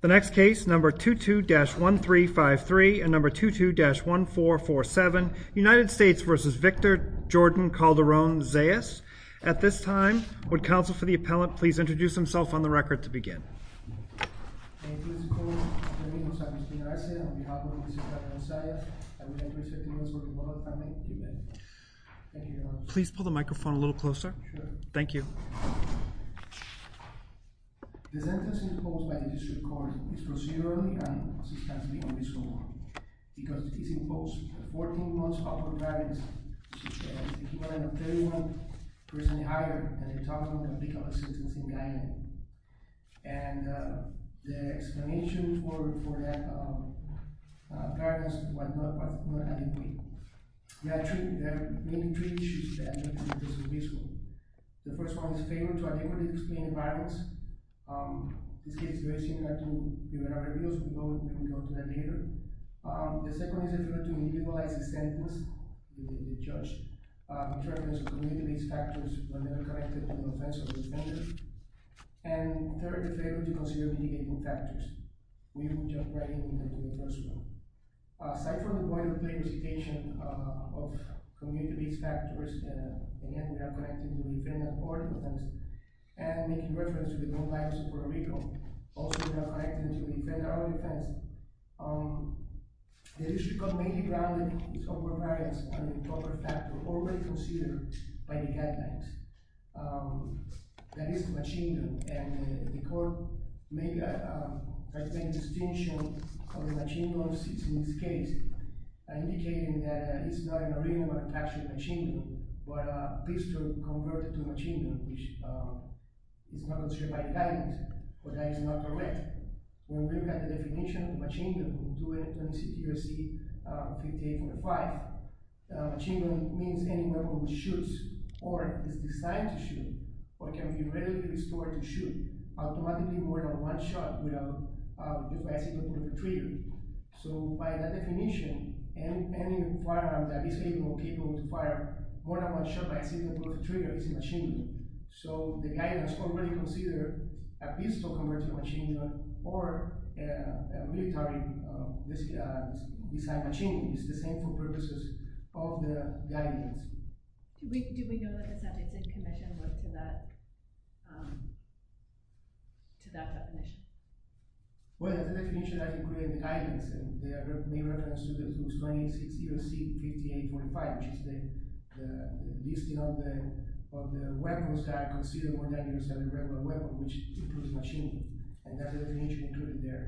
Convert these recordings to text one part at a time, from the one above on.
The next case, number 22-1353 and number 22-1447, United States v. Victor Jordan Calderon-Zayas. At this time, would counsel for the appellant please introduce himself on the record to begin. Please pull the microphone a little closer. Thank you. Please proceed early and assist us in being on this call because it is imposed that 14 months of appellant guidance should have an equivalent of 31% higher than the total amount of legal assistance and guidance. And the explanation for that guidance was not adequate. There are three issues that need to be addressed in this court. The first one is a failure to adequately explain the violence. This case is very similar to the one in our review so we can go to that later. The second is a failure to medialize the sentence with the judge. In terms of community-based factors were never connected to the offense of the defender. And third, a failure to consider mitigating factors. We will jump right into the first one. Aside from the point of clarification of community-based factors Again, we are connected to the defender for the offense. And making reference to the home violence in Puerto Rico. Also, we are connected to the defender of the offense. The issue got mainly grounded in some covariance on the improper factor already considered by the guidance. That is the machindun. And the court made a distinct distinction of the machindun in this case. Indicating that it is not a marina but actually a machindun. But a pistol converted to machindun. Which is not considered by the guidance. But that is not correct. When we look at the definition of machindun. We do it in CTRC 58.5 Machindun means any weapon that shoots. Or is designed to shoot. Or can be readily restored to shoot. Automatically more than one shot. If I see the bullet in the trigger. So by that definition. Any firearm that is capable to fire more than one shot by seeing the bullet in the trigger. Is a machindun. So the guidance already considered a pistol converted to machindun. Or a military designed machindun. It is the same for purposes of the guidance. Do we know that the subject is connected to that definition? Well that is the definition that is included in the guidance. And there are many reference to the CTRC 58.5 Which is the listing of the weapons that are considered more dangerous than a regular weapon. Which includes machindun. And that is the definition included there.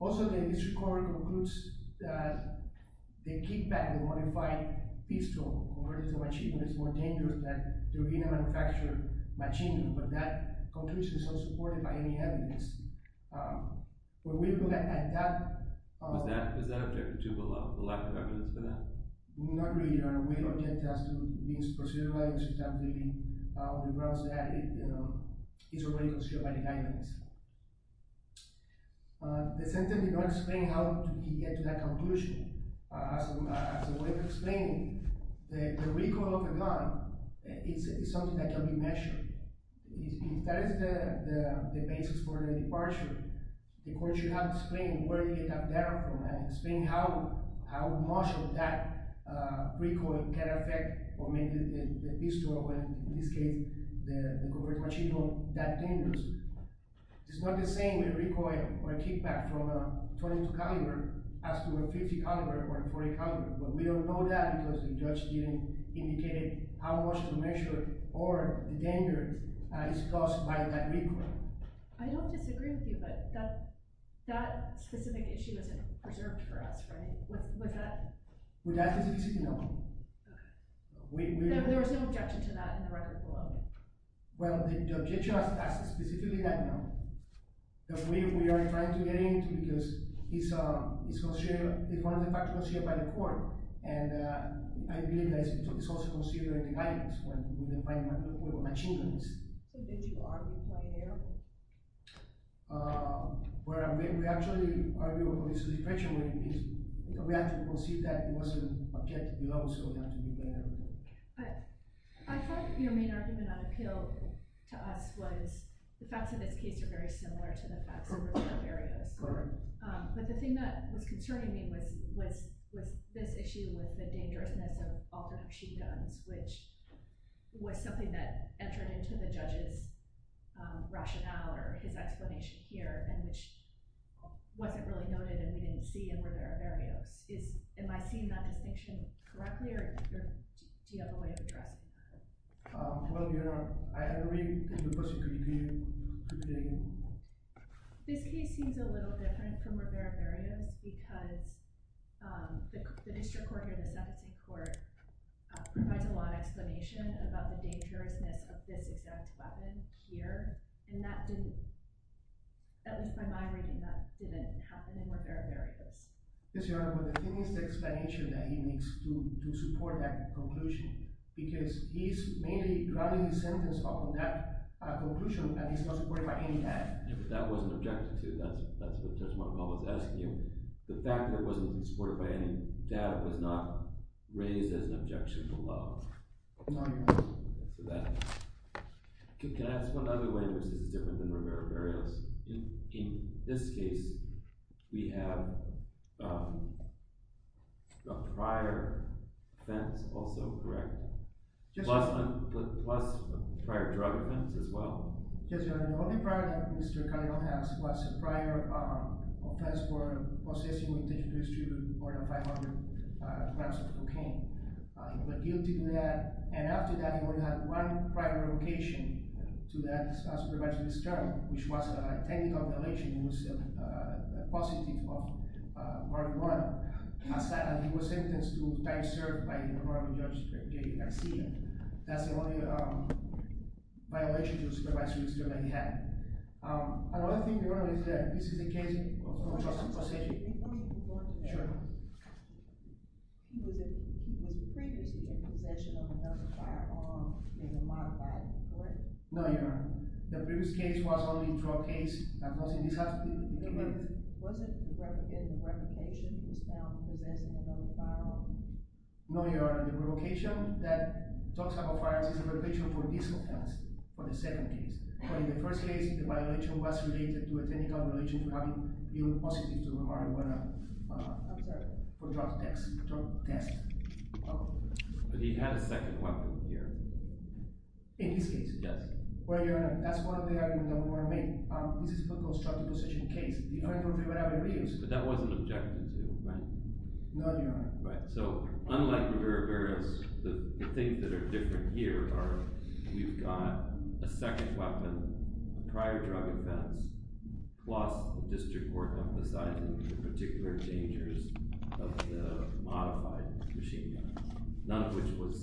Also the district court concludes that the kickback of a modified pistol. Converted to machindun is more dangerous than a machindun. But that conclusion is not supported by any evidence. When we look at that. Was that objected to? The lack of evidence for that? Not really. We objected to the procedure by the district attorney. On the grounds that it is already considered by the guidance. The sentence did not explain how to get to that conclusion. As a way of explaining. The recoil of the gun. Is something that can be measured. If that is the basis for the departure. The court should have explained. Where you get that data from. And explain how much of that recoil. Can affect. Or make the pistol. Or in this case the converted machindun. That dangerous. It is not the same recoil. Or a kickback from a .22 caliber. As to a .50 caliber. Or a .40 caliber. But we don't know that. Because the judge didn't indicate how much to measure. Or the danger is caused by that recoil. I don't disagree with you. But that specific issue. Isn't reserved for us. Was that? With that specific issue no. There was no objection to that. In the record below. The objection was specifically that no. We are trying to get into it. Because it is considered. By the court. And I believe it is also considered. By the guidance. With the machinduns. Did you argue why they are? We actually. We have to proceed that. It wasn't. Objected below. I thought your main argument. On appeal. To us was. The facts of this case are very similar. To the facts of the other areas. But the thing that was concerning me. Was this issue with the dangerousness. Of the machinduns. Which was something that entered into the judges. Rationale. Or his explanation here. Which wasn't really noted. And we didn't see in Rivera Berrios. Am I seeing that distinction correctly? Or do you have a way of addressing that? I agree. This case seems a little different. From Rivera Berrios. Because the district court. Provides a lot of explanation. About the dangerousness. Of this exact weapon here. And that didn't. That was my mind reading. That didn't happen in Rivera Berrios. But the thing is the explanation. That he makes to support that conclusion. Because he is mainly. Drowning his sentence. Upon that conclusion. And he is not supported by any data. That wasn't objected to. The fact that it wasn't supported by any data. So that was not raised as an objection. No. Can I ask one other way. Which is different than Rivera Berrios. In this case. We have. A prior. Offense. Also correct. Plus a prior drug offense. As well. The only prior that Mr. Cardinal has. Was a prior. Offense for possessing. 500 grams of cocaine. He was guilty of that. And after that. He had one prior location. To that supervisor. Which was a technical violation. It was a positive. For Cardinal. And he was sentenced to time served. By Judge Garcia. That's the only. Violation to the supervisor. That he had. This is a case. Let me move on. Sure. He was previously. In possession of another firearm. In a modified bullet. No Your Honor. The previous case was only drug case. Was it. The revocation. Possessing another firearm. No Your Honor. The revocation. For this offense. For the second case. In the first case. The violation was related. To a technical violation. For drug test. But he had a second weapon. Here. In this case. Yes. This is a drug possession case. But that wasn't. Objected to. No Your Honor. Unlike Rivera-Vera. The things that are different here. We've got a second weapon. A prior drug offense. Plus the district court. Emphasizing the particular dangers. Of the modified. Machine gun. None of which was.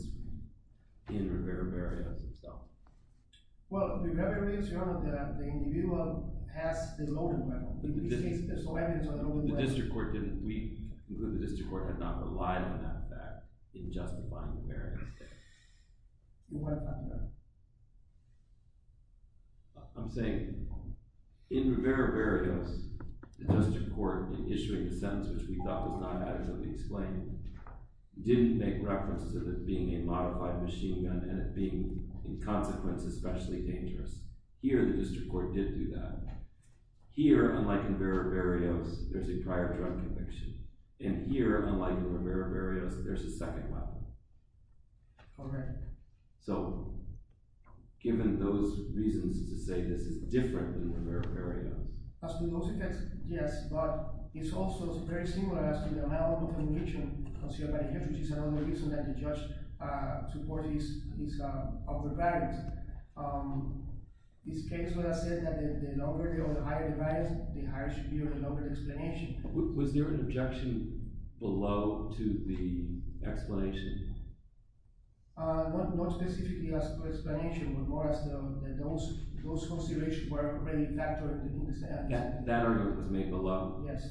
In Rivera-Vera. Well. The individual. Passed the loaded weapon. The district court. Had not relied on that fact. In justifying Rivera-Vera. Your Honor. I'm saying. In Rivera-Vera. The district court. In issuing the sentence. Which we thought was not adequately explained. Didn't make reference. To it being a modified machine gun. And it being in consequence. Especially dangerous. Here the district court did do that. Here unlike in Rivera-Vera. There's a prior drug conviction. And here unlike in Rivera-Vera. There's a second weapon. Correct. So. Given those reasons to say. This is different than Rivera-Vera. Yes. But it's also very similar. As to the amount of information. Which is another reason. That the judge supported. These other values. This case where I said. That the longer. The higher the value. The higher should be or the longer the explanation. Was there an objection. Below to the. Explanation. Not specifically as to the explanation. But more as to. Those considerations were already factored. In the sentence. That argument was made below. Yes.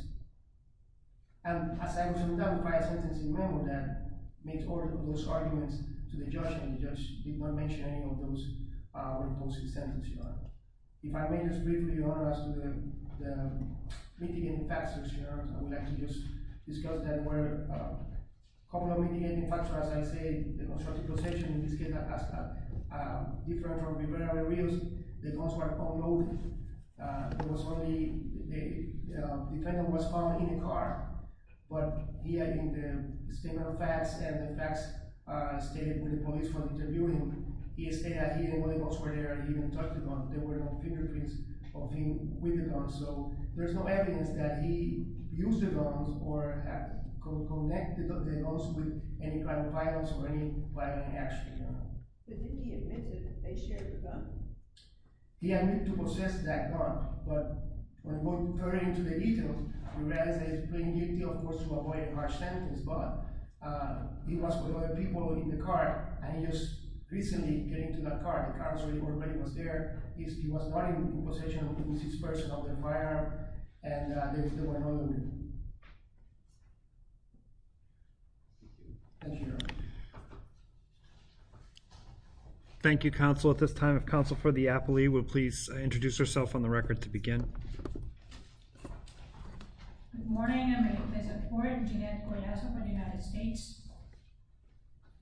And as I was on that modified sentencing memo. That made all those arguments. To the judge. And the judge did not mention any of those. In the sentencing memo. If I may just briefly. As to the mitigating factors. I would like to just discuss. That were common mitigating factors. As I said. In this case. Different from Rivera-Vera. The guns were unloaded. It was only. The defendant was found in the car. But here. In the statement of facts. And the facts stated. That the police were interviewing him. He stated that he didn't know the guns were there. And he didn't touch the gun. There were no fingerprints of him with the gun. So there's no evidence that he used the guns. Or connected the guns. With any kind of violence. Or any violent action. But didn't he admit it? That they shared the gun? He admitted to possessing that gun. But referring to the details. We realize that it's pretty nitty. Of course to avoid a harsh sentence. But he was with other people. In the car. And he was recently getting to that car. The car was already there. He was running. In possession of the firearm. And there were no other men. Thank you. Thank you. Thank you counsel. At this time if counsel for the appellee. Will please introduce herself on the record. To begin. Good morning. Good morning.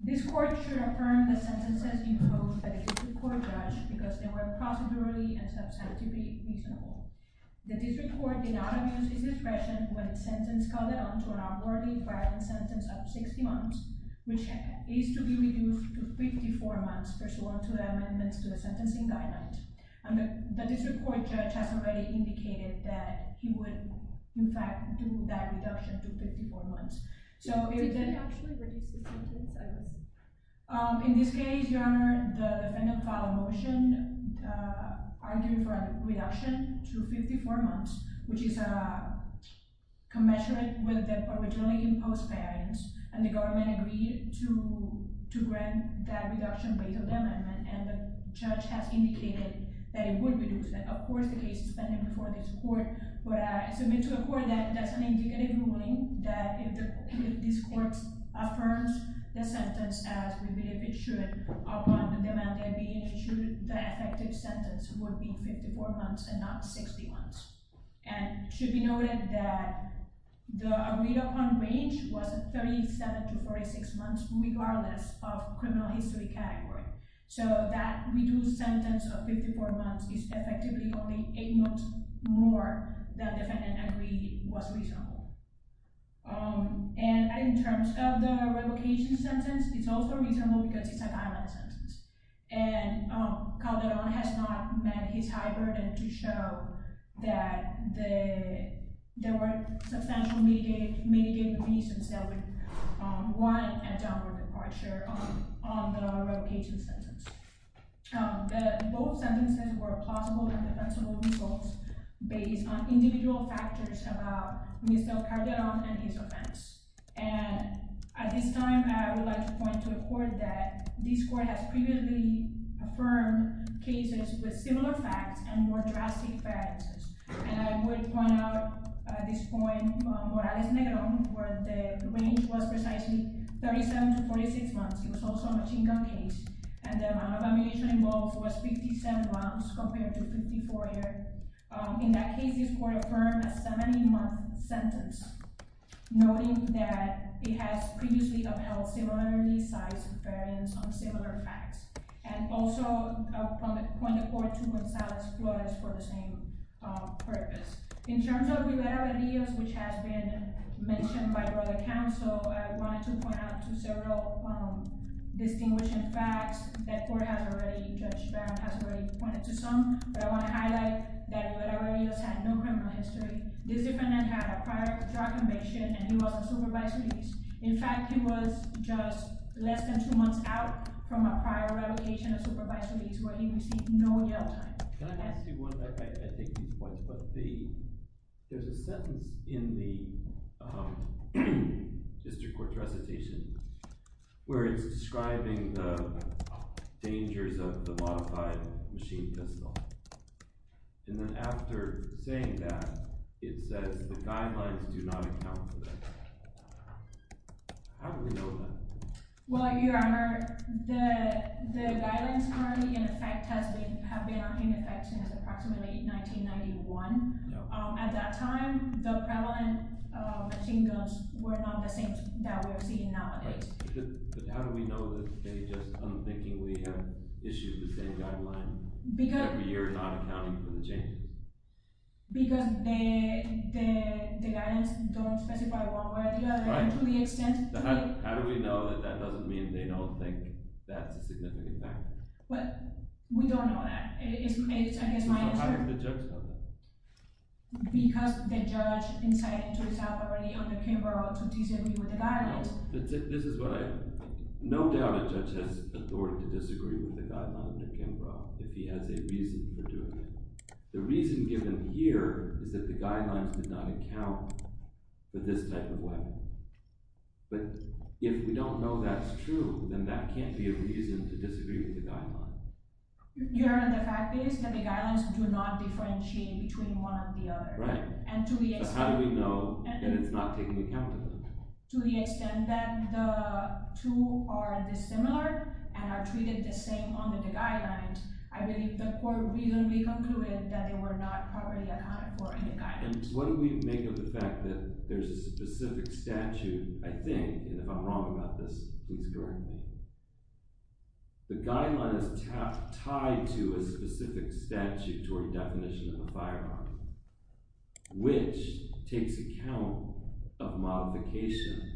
This court should affirm. The sentences imposed. By the district court judge. Because they were procedurally. And substantively reasonable. The district court. Did not abuse his discretion. When the sentence called it on. To an upwardly violent sentence. Of 60 months. Which is to be reduced to 54 months. Pursuant to the amendments. To the sentencing guidelines. The district court judge. Has already indicated. That he would in fact. Do that reduction to 54 months. Did he actually reduce the sentence? In this case. Your honor. The defendant filed a motion. Arguing for a reduction. To 54 months. Which is commensurate. With the originally imposed parents. And the government agreed. To grant that reduction. With the amendment. And the judge has indicated. That it would be reduced. But I submit to the court. That is an indicative ruling. That if this court. Affirms the sentence. As we believe it should. Upon the demand. The effective sentence. Would be 54 months. And not 60 months. And it should be noted. That the agreed upon range. Was 37 to 46 months. Regardless of criminal history category. So that reduced sentence. Of 54 months. Is effectively only 8 months more. Than the defendant agreed. Was reasonable. And in terms of. The revocation sentence. It's also reasonable. Because it's a violent sentence. And Calderon has not met. His high burden to show. That there were. Substantial mitigating reasons. That would want. A downward departure. On the revocation sentence. Both sentences. Were plausible and defensible results. Based on individual factors. About Mr. Calderon. And his offense. And at this time. I would like to point to the court. That this court has previously. Affirmed cases with similar facts. And more drastic facts. And I would point out. At this point. The range was precisely. 37 to 46 months. It was also a machin gun case. And the amount of ammunition involved. Was 57 rounds. Compared to 54 here. In that case this court affirmed. A 70 month sentence. Noting that. It has previously upheld. Similar facts. And also. Point the court to Gonzalez Flores. For the same purpose. In terms of Rivera-Rodriguez. Which has been. Mentioned by your other counsel. I wanted to point out to several. Distinguishing facts. That court has already. Judge Brown has already pointed to some. But I want to highlight that Rivera-Rodriguez. Had no criminal history. This defendant had a prior drug invasion. And he was on supervised release. In fact he was just. Less than two months out. From a prior release. He received no jail time. Can I ask you. There is a sentence. In the. District court recitation. Where it is describing. The dangers. Of the modified machine pistol. And then after. Saying that. It says the guidelines. Do not account for that. How do we know that? Well your honor. The guidelines currently. In effect. Have been in effect. Since approximately 1991. At that time. The prevalent machine guns. Were not the same. That we are seeing nowadays. But how do we know. That they just unthinkingly. Have issued the same guidelines. Every year not accounting for the changes. Because. The guidelines. Don't specify one way or the other. To the extent. How do we know that that doesn't mean. They don't think that's a significant factor. We don't know that. It's I guess my answer. How does the judge know that? Because the judge. Inside and to itself already. Under Kimbrough. To disagree with the guidelines. No doubt a judge has authority. To disagree with the guidelines of Kimbrough. If he has a reason for doing it. The reason given here. Is that the guidelines did not account. For this type of weapon. But. If we don't know that's true. Then that can't be a reason to disagree with the guidelines. Your honor the fact is. That the guidelines do not differentiate. Between one and the other. But how do we know. That it's not taking account of them. To the extent that the. Two are dissimilar. And are treated the same under the guidelines. I believe the court. Reasonably concluded that they were not. Properly accounted for in the guidelines. What do we make of the fact that. There's a specific statute. I think and if I'm wrong about this. Please correct me. The guideline is. Tied to a specific statute. Toward the definition of a firearm. Which takes account. Of modification.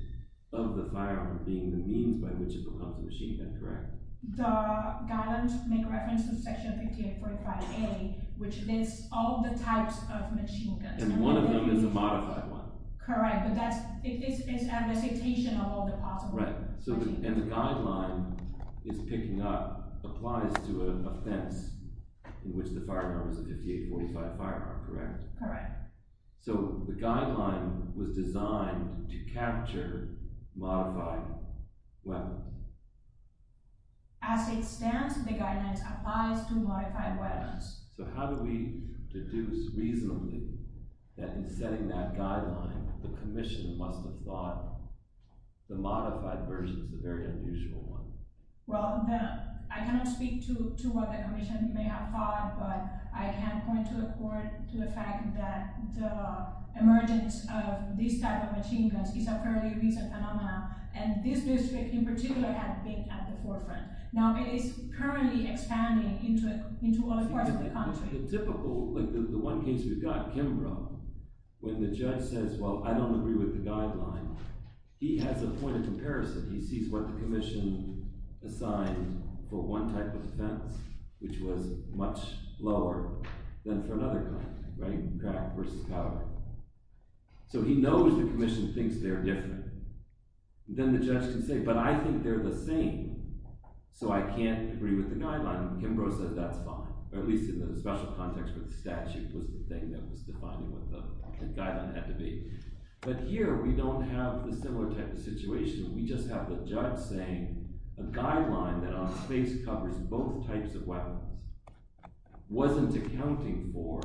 Of the firearm. Being the means by which it becomes a machine gun. Correct. The guidelines make reference to section 5845A. Which lists all the types. Of machine guns. And one of them is a modified one. Correct. It's a citation of all the parts of a machine gun. And the guideline is picking up. Applies to a fence. In which the firearm is a 5845 firearm. Correct. Correct. So the guideline. Was designed to capture. Modified. Weapons. As it stands. The guidelines applies to modified weapons. So how do we deduce. Reasonably. That in setting that guideline. The commission must have thought. The modified version is a very unusual one. Well. I cannot speak to what the commission. May have thought. But I can point to the fact. That the emergence. Of this type of machine gun. Is a fairly recent phenomenon. And this district in particular. Had been at the forefront. Now it is currently expanding. Into all the parts of the country. The typical. Like the one case we got. Kimbrough. When the judge says well I don't agree with the guideline. He has a point of comparison. He sees what the commission assigned. For one type of defense. Which was much lower. Than for another kind. Right. So he knows the commission thinks they are different. Then the judge can say. But I think they are the same. So I can't agree with the guideline. Kimbrough said that's fine. Or at least in the special context with the statute. Was the thing that was defining. What the guideline had to be. But here we don't have a similar type of situation. We just have the judge saying. A guideline that on face covers. Both types of weapons. Wasn't accounting for.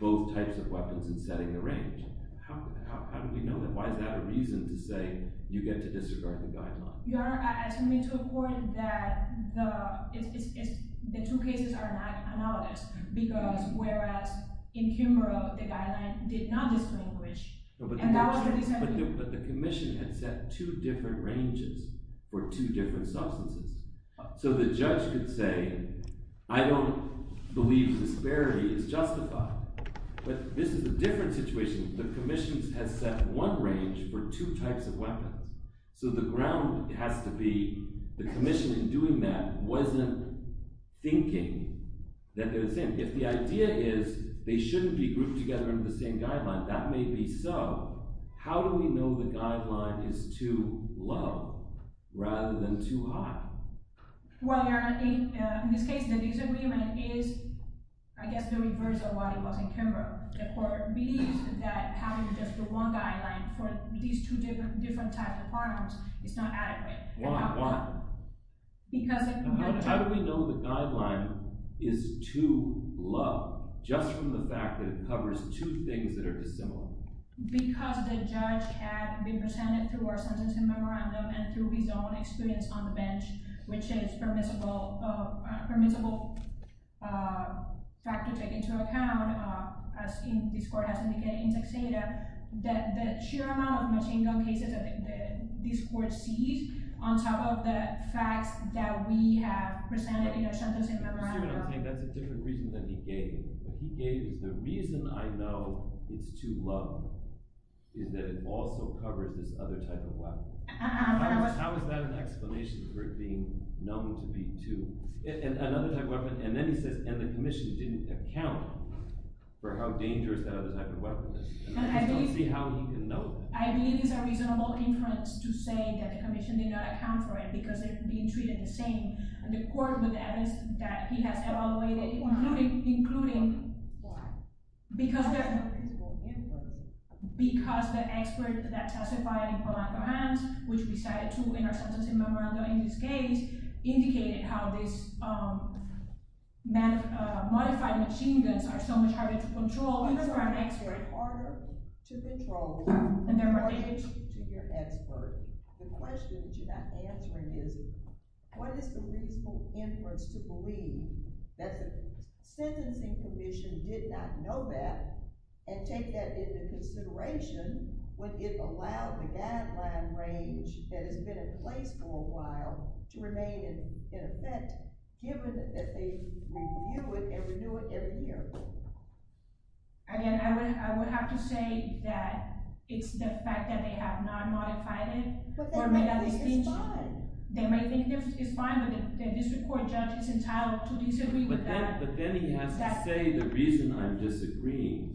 Both types of weapons. And setting the range. How do we know that? Why is that a reason to say. You get to disregard the guideline. You are asking me to a point that. The two cases are not analogous. Because whereas. In Kimbrough the guideline. Did not distinguish. But the commission had set. Two different ranges. For two different substances. So the judge could say. I don't believe. Disparity is justified. But this is a different situation. The commission has set one range. For two types of weapons. So the ground has to be. The commission in doing that. Wasn't thinking. That they are the same. If the idea is they shouldn't be grouped together. Under the same guideline. That may be so. How do we know the guideline. Is too low. Rather than too high. Well your honor. In this case the disagreement is. I guess the reverse of what it was in Kimbrough. The court believes that. Having just the one guideline. For these two different types of firearms. Is not adequate. Why? How do we know the guideline. Is too low. Just from the fact that it covers. Two things that are dissimilar. Because the judge had. Been presented through our sentencing memorandum. And through his own experience on the bench. Which is permissible. Permissible. Fact to take into account. As this court has indicated. In text data. That the sheer amount of machine gun cases. This court sees. On top of the facts. That we have presented in our sentencing memorandum. That's a different reason than he gave. The reason I know. It's too low. Is that it also covers. This other type of weapon. How is that an explanation. For it being known to be too. Another type of weapon. And the commission didn't account. For how dangerous. That other type of weapon is. I believe it's a reasonable inference. To say that the commission. Did not account for it. Because they're being treated the same. And the court with evidence. That he has evaluated. Including. Why? Because the expert. That testified. Which we cited too. In our sentencing memorandum. In this case. Indicated how this. Modified machine guns. Are so much harder to control. Even for an expert. Harder to control. In relation to your expert. The question that you're not answering is. What is the reasonable inference. To believe. That the sentencing commission. Did not know that. And take that into consideration. When it allowed. The guideline range. That has been in place for a while. To remain in effect. Given that they review it. And renew it every year. Again. I would have to say. That it's the fact. That they have not modified it. Or made a distinction. They might think it's fine. But the district court judge. Is entitled to disagree with that. But then he has to say. The reason I'm disagreeing.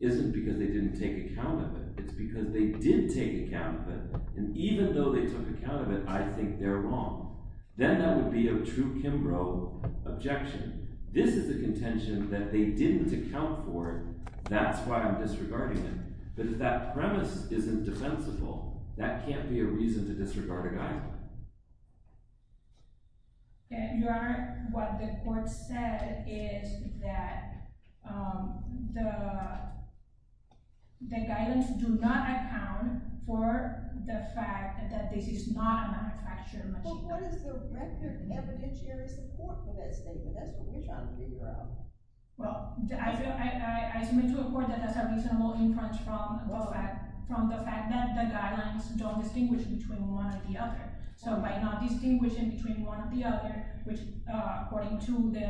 Isn't because they didn't take account of it. It's because they did take account of it. And even though they took account of it. I think they're wrong. Then that would be a true Kimbrough. Objection. This is a contention. That they didn't account for it. That's why I'm disregarding it. But if that premise isn't defensible. That can't be a reason. To disregard a guideline. Your honor. What the court said. Is that. The. The guidelines do not account. For the fact. That this is not a manufactured machine. But what is the record. Evidentiary support for that statement. That's what we're trying to figure out. I submit to the court. That that's a reasonable inference. From the fact. That the guidelines don't distinguish. Between one and the other. So by not distinguishing. Between one and the other. According to the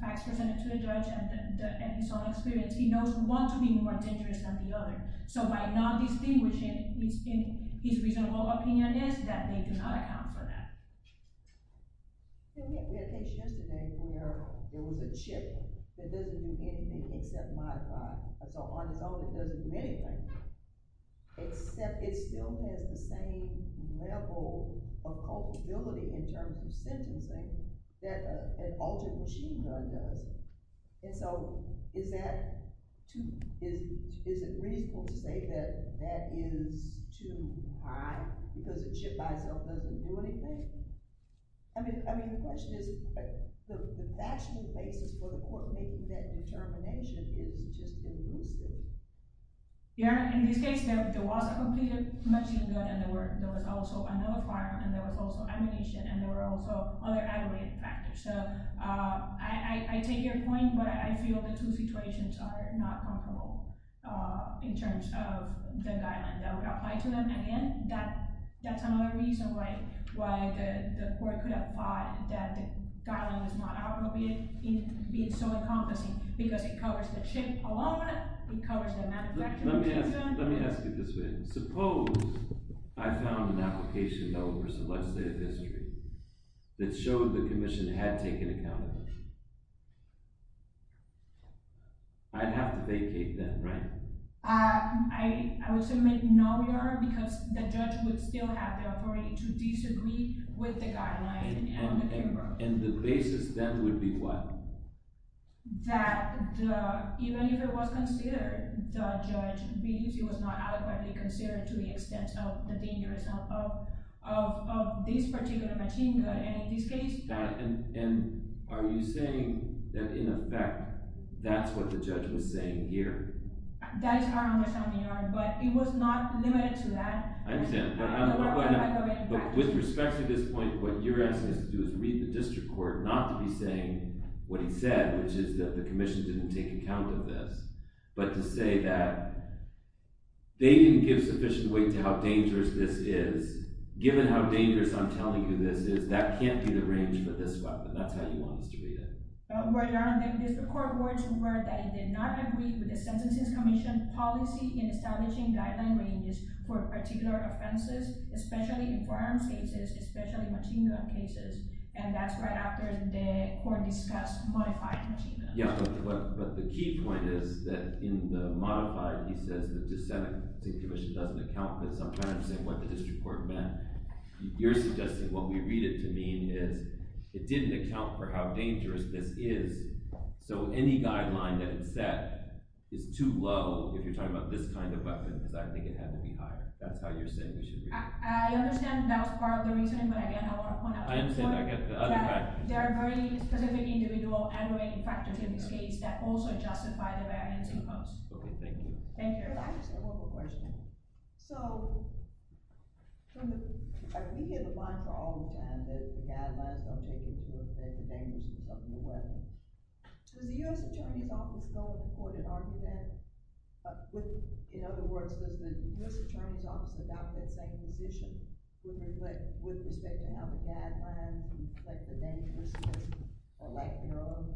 facts presented to the judge. And his own experience. He knows one to be more dangerous than the other. So by not distinguishing. His reasonable opinion is. That they do not account for that. We had a case yesterday. Where there was a chip. That doesn't do anything. Except modify. So on its own it doesn't do anything. Except it still has the same. Level. Of culpability. In terms of sentencing. That an altered machine gun does. And so is that. Is it reasonable to say. That that is too high. Because a chip by itself. Doesn't do anything. I mean the question is. The national basis. For the court making that determination. Is just elusive. Your honor in this case. There was a completed machine gun. And there was also another firearm. And there was also ammunition. And there were also other aggravated factors. So I take your point. But I feel the two situations. Are not comparable. In terms of the guideline. That would apply to them again. That's another reason. Why the court could apply. That the guideline is not. Being so encompassing. Because it covers the chip alone. It covers the manufacturing. Let me ask you this way. Suppose I found an application. Over some legislative history. That showed the commission. Had taken account of. I'd have to vacate then. Right? I would submit no your honor. Because the judge would still have the authority. To disagree with the guideline. And the basis then. Would be what? That even if it was considered. The judge. Believes it was not adequately considered. To the extent of the dangerousness. Of this particular machine gun. And in this case. And are you saying. That in effect. That's what the judge was saying here. That is our understanding your honor. But it was not limited to that. I understand. But with respect to this point. What you're asking us to do. Is read the district court. Not to be saying what he said. Which is that the commission. Didn't take account of this. But to say that. They didn't give sufficient weight. To how dangerous this is. Given how dangerous I'm telling you this is. That can't be the range for this weapon. That's how you want us to read it. Your honor. The district court words were. That it did not agree with the sentencing commission. Policy in establishing guideline ranges. For particular offenses. Especially in firearms cases. Especially machine gun cases. And that's right after the court discussed. Modified machine gun. But the key point is. That in the modified. He says the sentencing commission. Doesn't account for this. I'm trying to understand what the district court meant. You're suggesting what we read it to mean. Is it didn't account for how dangerous this is. So any guideline. That is set. Is too low. If you're talking about this kind of weapon. Because I think it had to be higher. That's how you're saying we should read it. I understand that was part of the reason. But again I want to point out to the court. There are very specific individual. And related factors in this case. That also justify the variance imposed. Okay thank you. I just have one more question. So. We hear the line for all the time. That the guidelines don't take into account. The dangers of the weapon. Does the U.S. attorney's office. Go to court and argue that. In other words. Does the U.S. attorney's office. About that same position. With respect to how the guidelines. Like the dangers. Or lack thereof.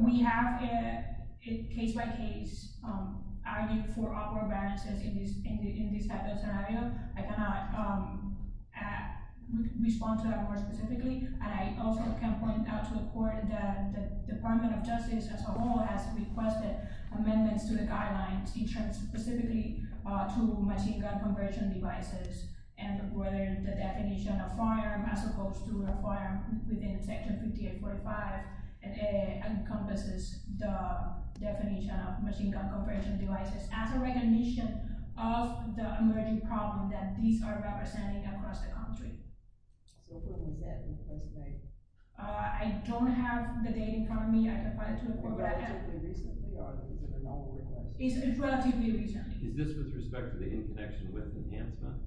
We have. Case by case. Argued for all the variances. In this type of scenario. I cannot. Respond to that more specifically. And I also can point out to the court. That the department of justice. As a whole has requested. Amendments to the guidelines. Specifically. To machine gun conversion devices. And whether the definition of firearm. As opposed to a firearm. Within section 58.5. Encompasses the. Definition of machine gun conversion devices. As a recognition. Of the emerging problem. That these are representing across the country. I don't have the date in front of me. I can point it to the court. It's relatively recent. It's relatively recent. Is this with respect to the. Enhancement.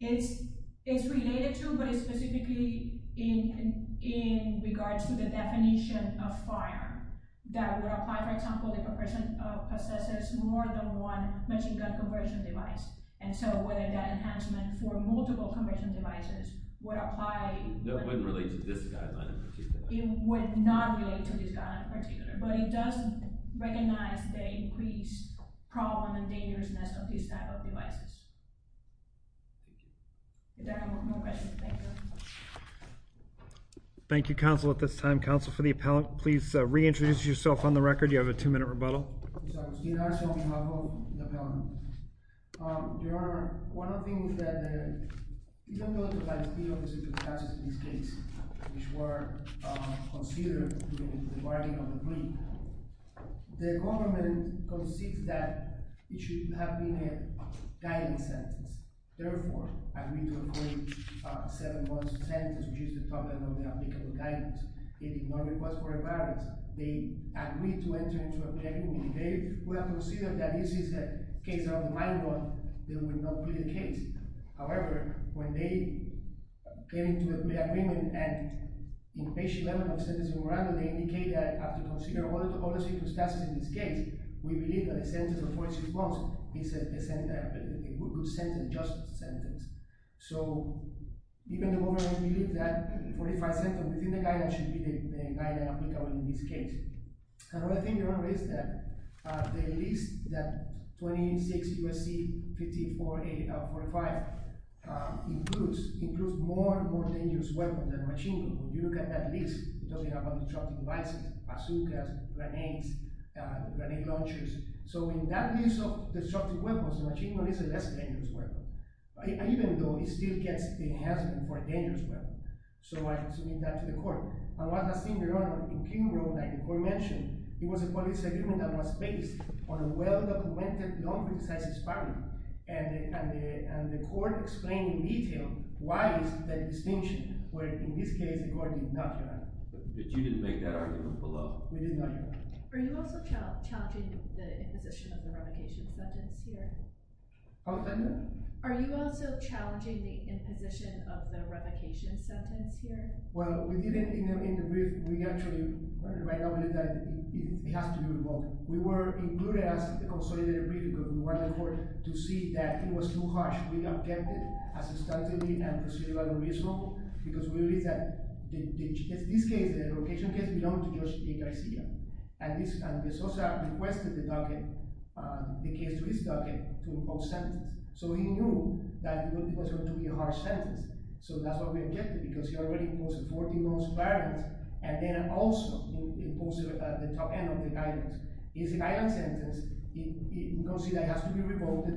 It's related to. But it's specifically. In regards to the definition. Of firearm. That would apply for example. If a person possesses more than one. Machine gun conversion device. And so whether that enhancement. For multiple conversion devices. Would apply. It wouldn't relate to this guideline in particular. It would not relate to this guideline in particular. But it does. Recognize the increased. Problem and dangerousness. Of these type of devices. If there are no more questions. Thank you. Thank you counsel at this time. Counsel for the appellant. Please reintroduce yourself on the record. You have a two minute rebuttal. Your honor. One of the things that. You don't know. The circumstances of this case. Which were considered. During the bargaining of the plea. The government. Concedes that. It should have been a. Guidance sentence. Therefore I agree to a court. Seven months sentence. Which is the topic of the applicable guidance. It did not request for a guidance. They agreed to enter into a plea. We have considered that this is a. Minor one. However. When they. Came to an agreement. And. They indicated. In this case. We believe that the sentence. Is. A sentence. So. Even the government. Should be. In this case. Another thing your honor. Is that. The list that. 26 U.S.C. 54A. 45. Includes more and more dangerous weapons. When you look at that list. It doesn't have any destructive devices. Bazookas, grenades, grenade launchers. So in that list of destructive weapons. The machine gun is a less dangerous weapon. Even though it still gets. The enhancement for a dangerous weapon. So I submit that to the court. And one last thing your honor. In King Road that the court mentioned. It was a police agreement that was based. On a well documented non-criticized. And the court. Explained in detail. Why is that distinction. Where in this case the court did not. You didn't make that argument below. Are you also challenging. The imposition of the revocation. Sentence here. Are you also challenging. The imposition of the revocation. Sentence here. Well we didn't in the brief. We actually right now believe that. It has to be revoked. We were included as a consolidated brief. Because we wanted the court to see that. It was too harsh. We have kept it. Because we believe that. In this case. The location case. Belonged to Judge Jay Garcia. And the society requested. The case to his docket. To impose sentence. So he knew. That it was going to be a harsh sentence. So that's why we kept it. Because he already imposed it. And then also. He imposed it at the top end of the guidance. It's a guidance sentence. We don't see that it has to be revoked.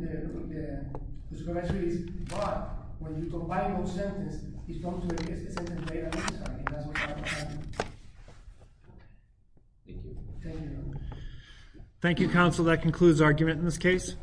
But. When you combine those sentences. It comes to the biggest sentence. Thank you. Thank you counsel. That concludes the argument in this case.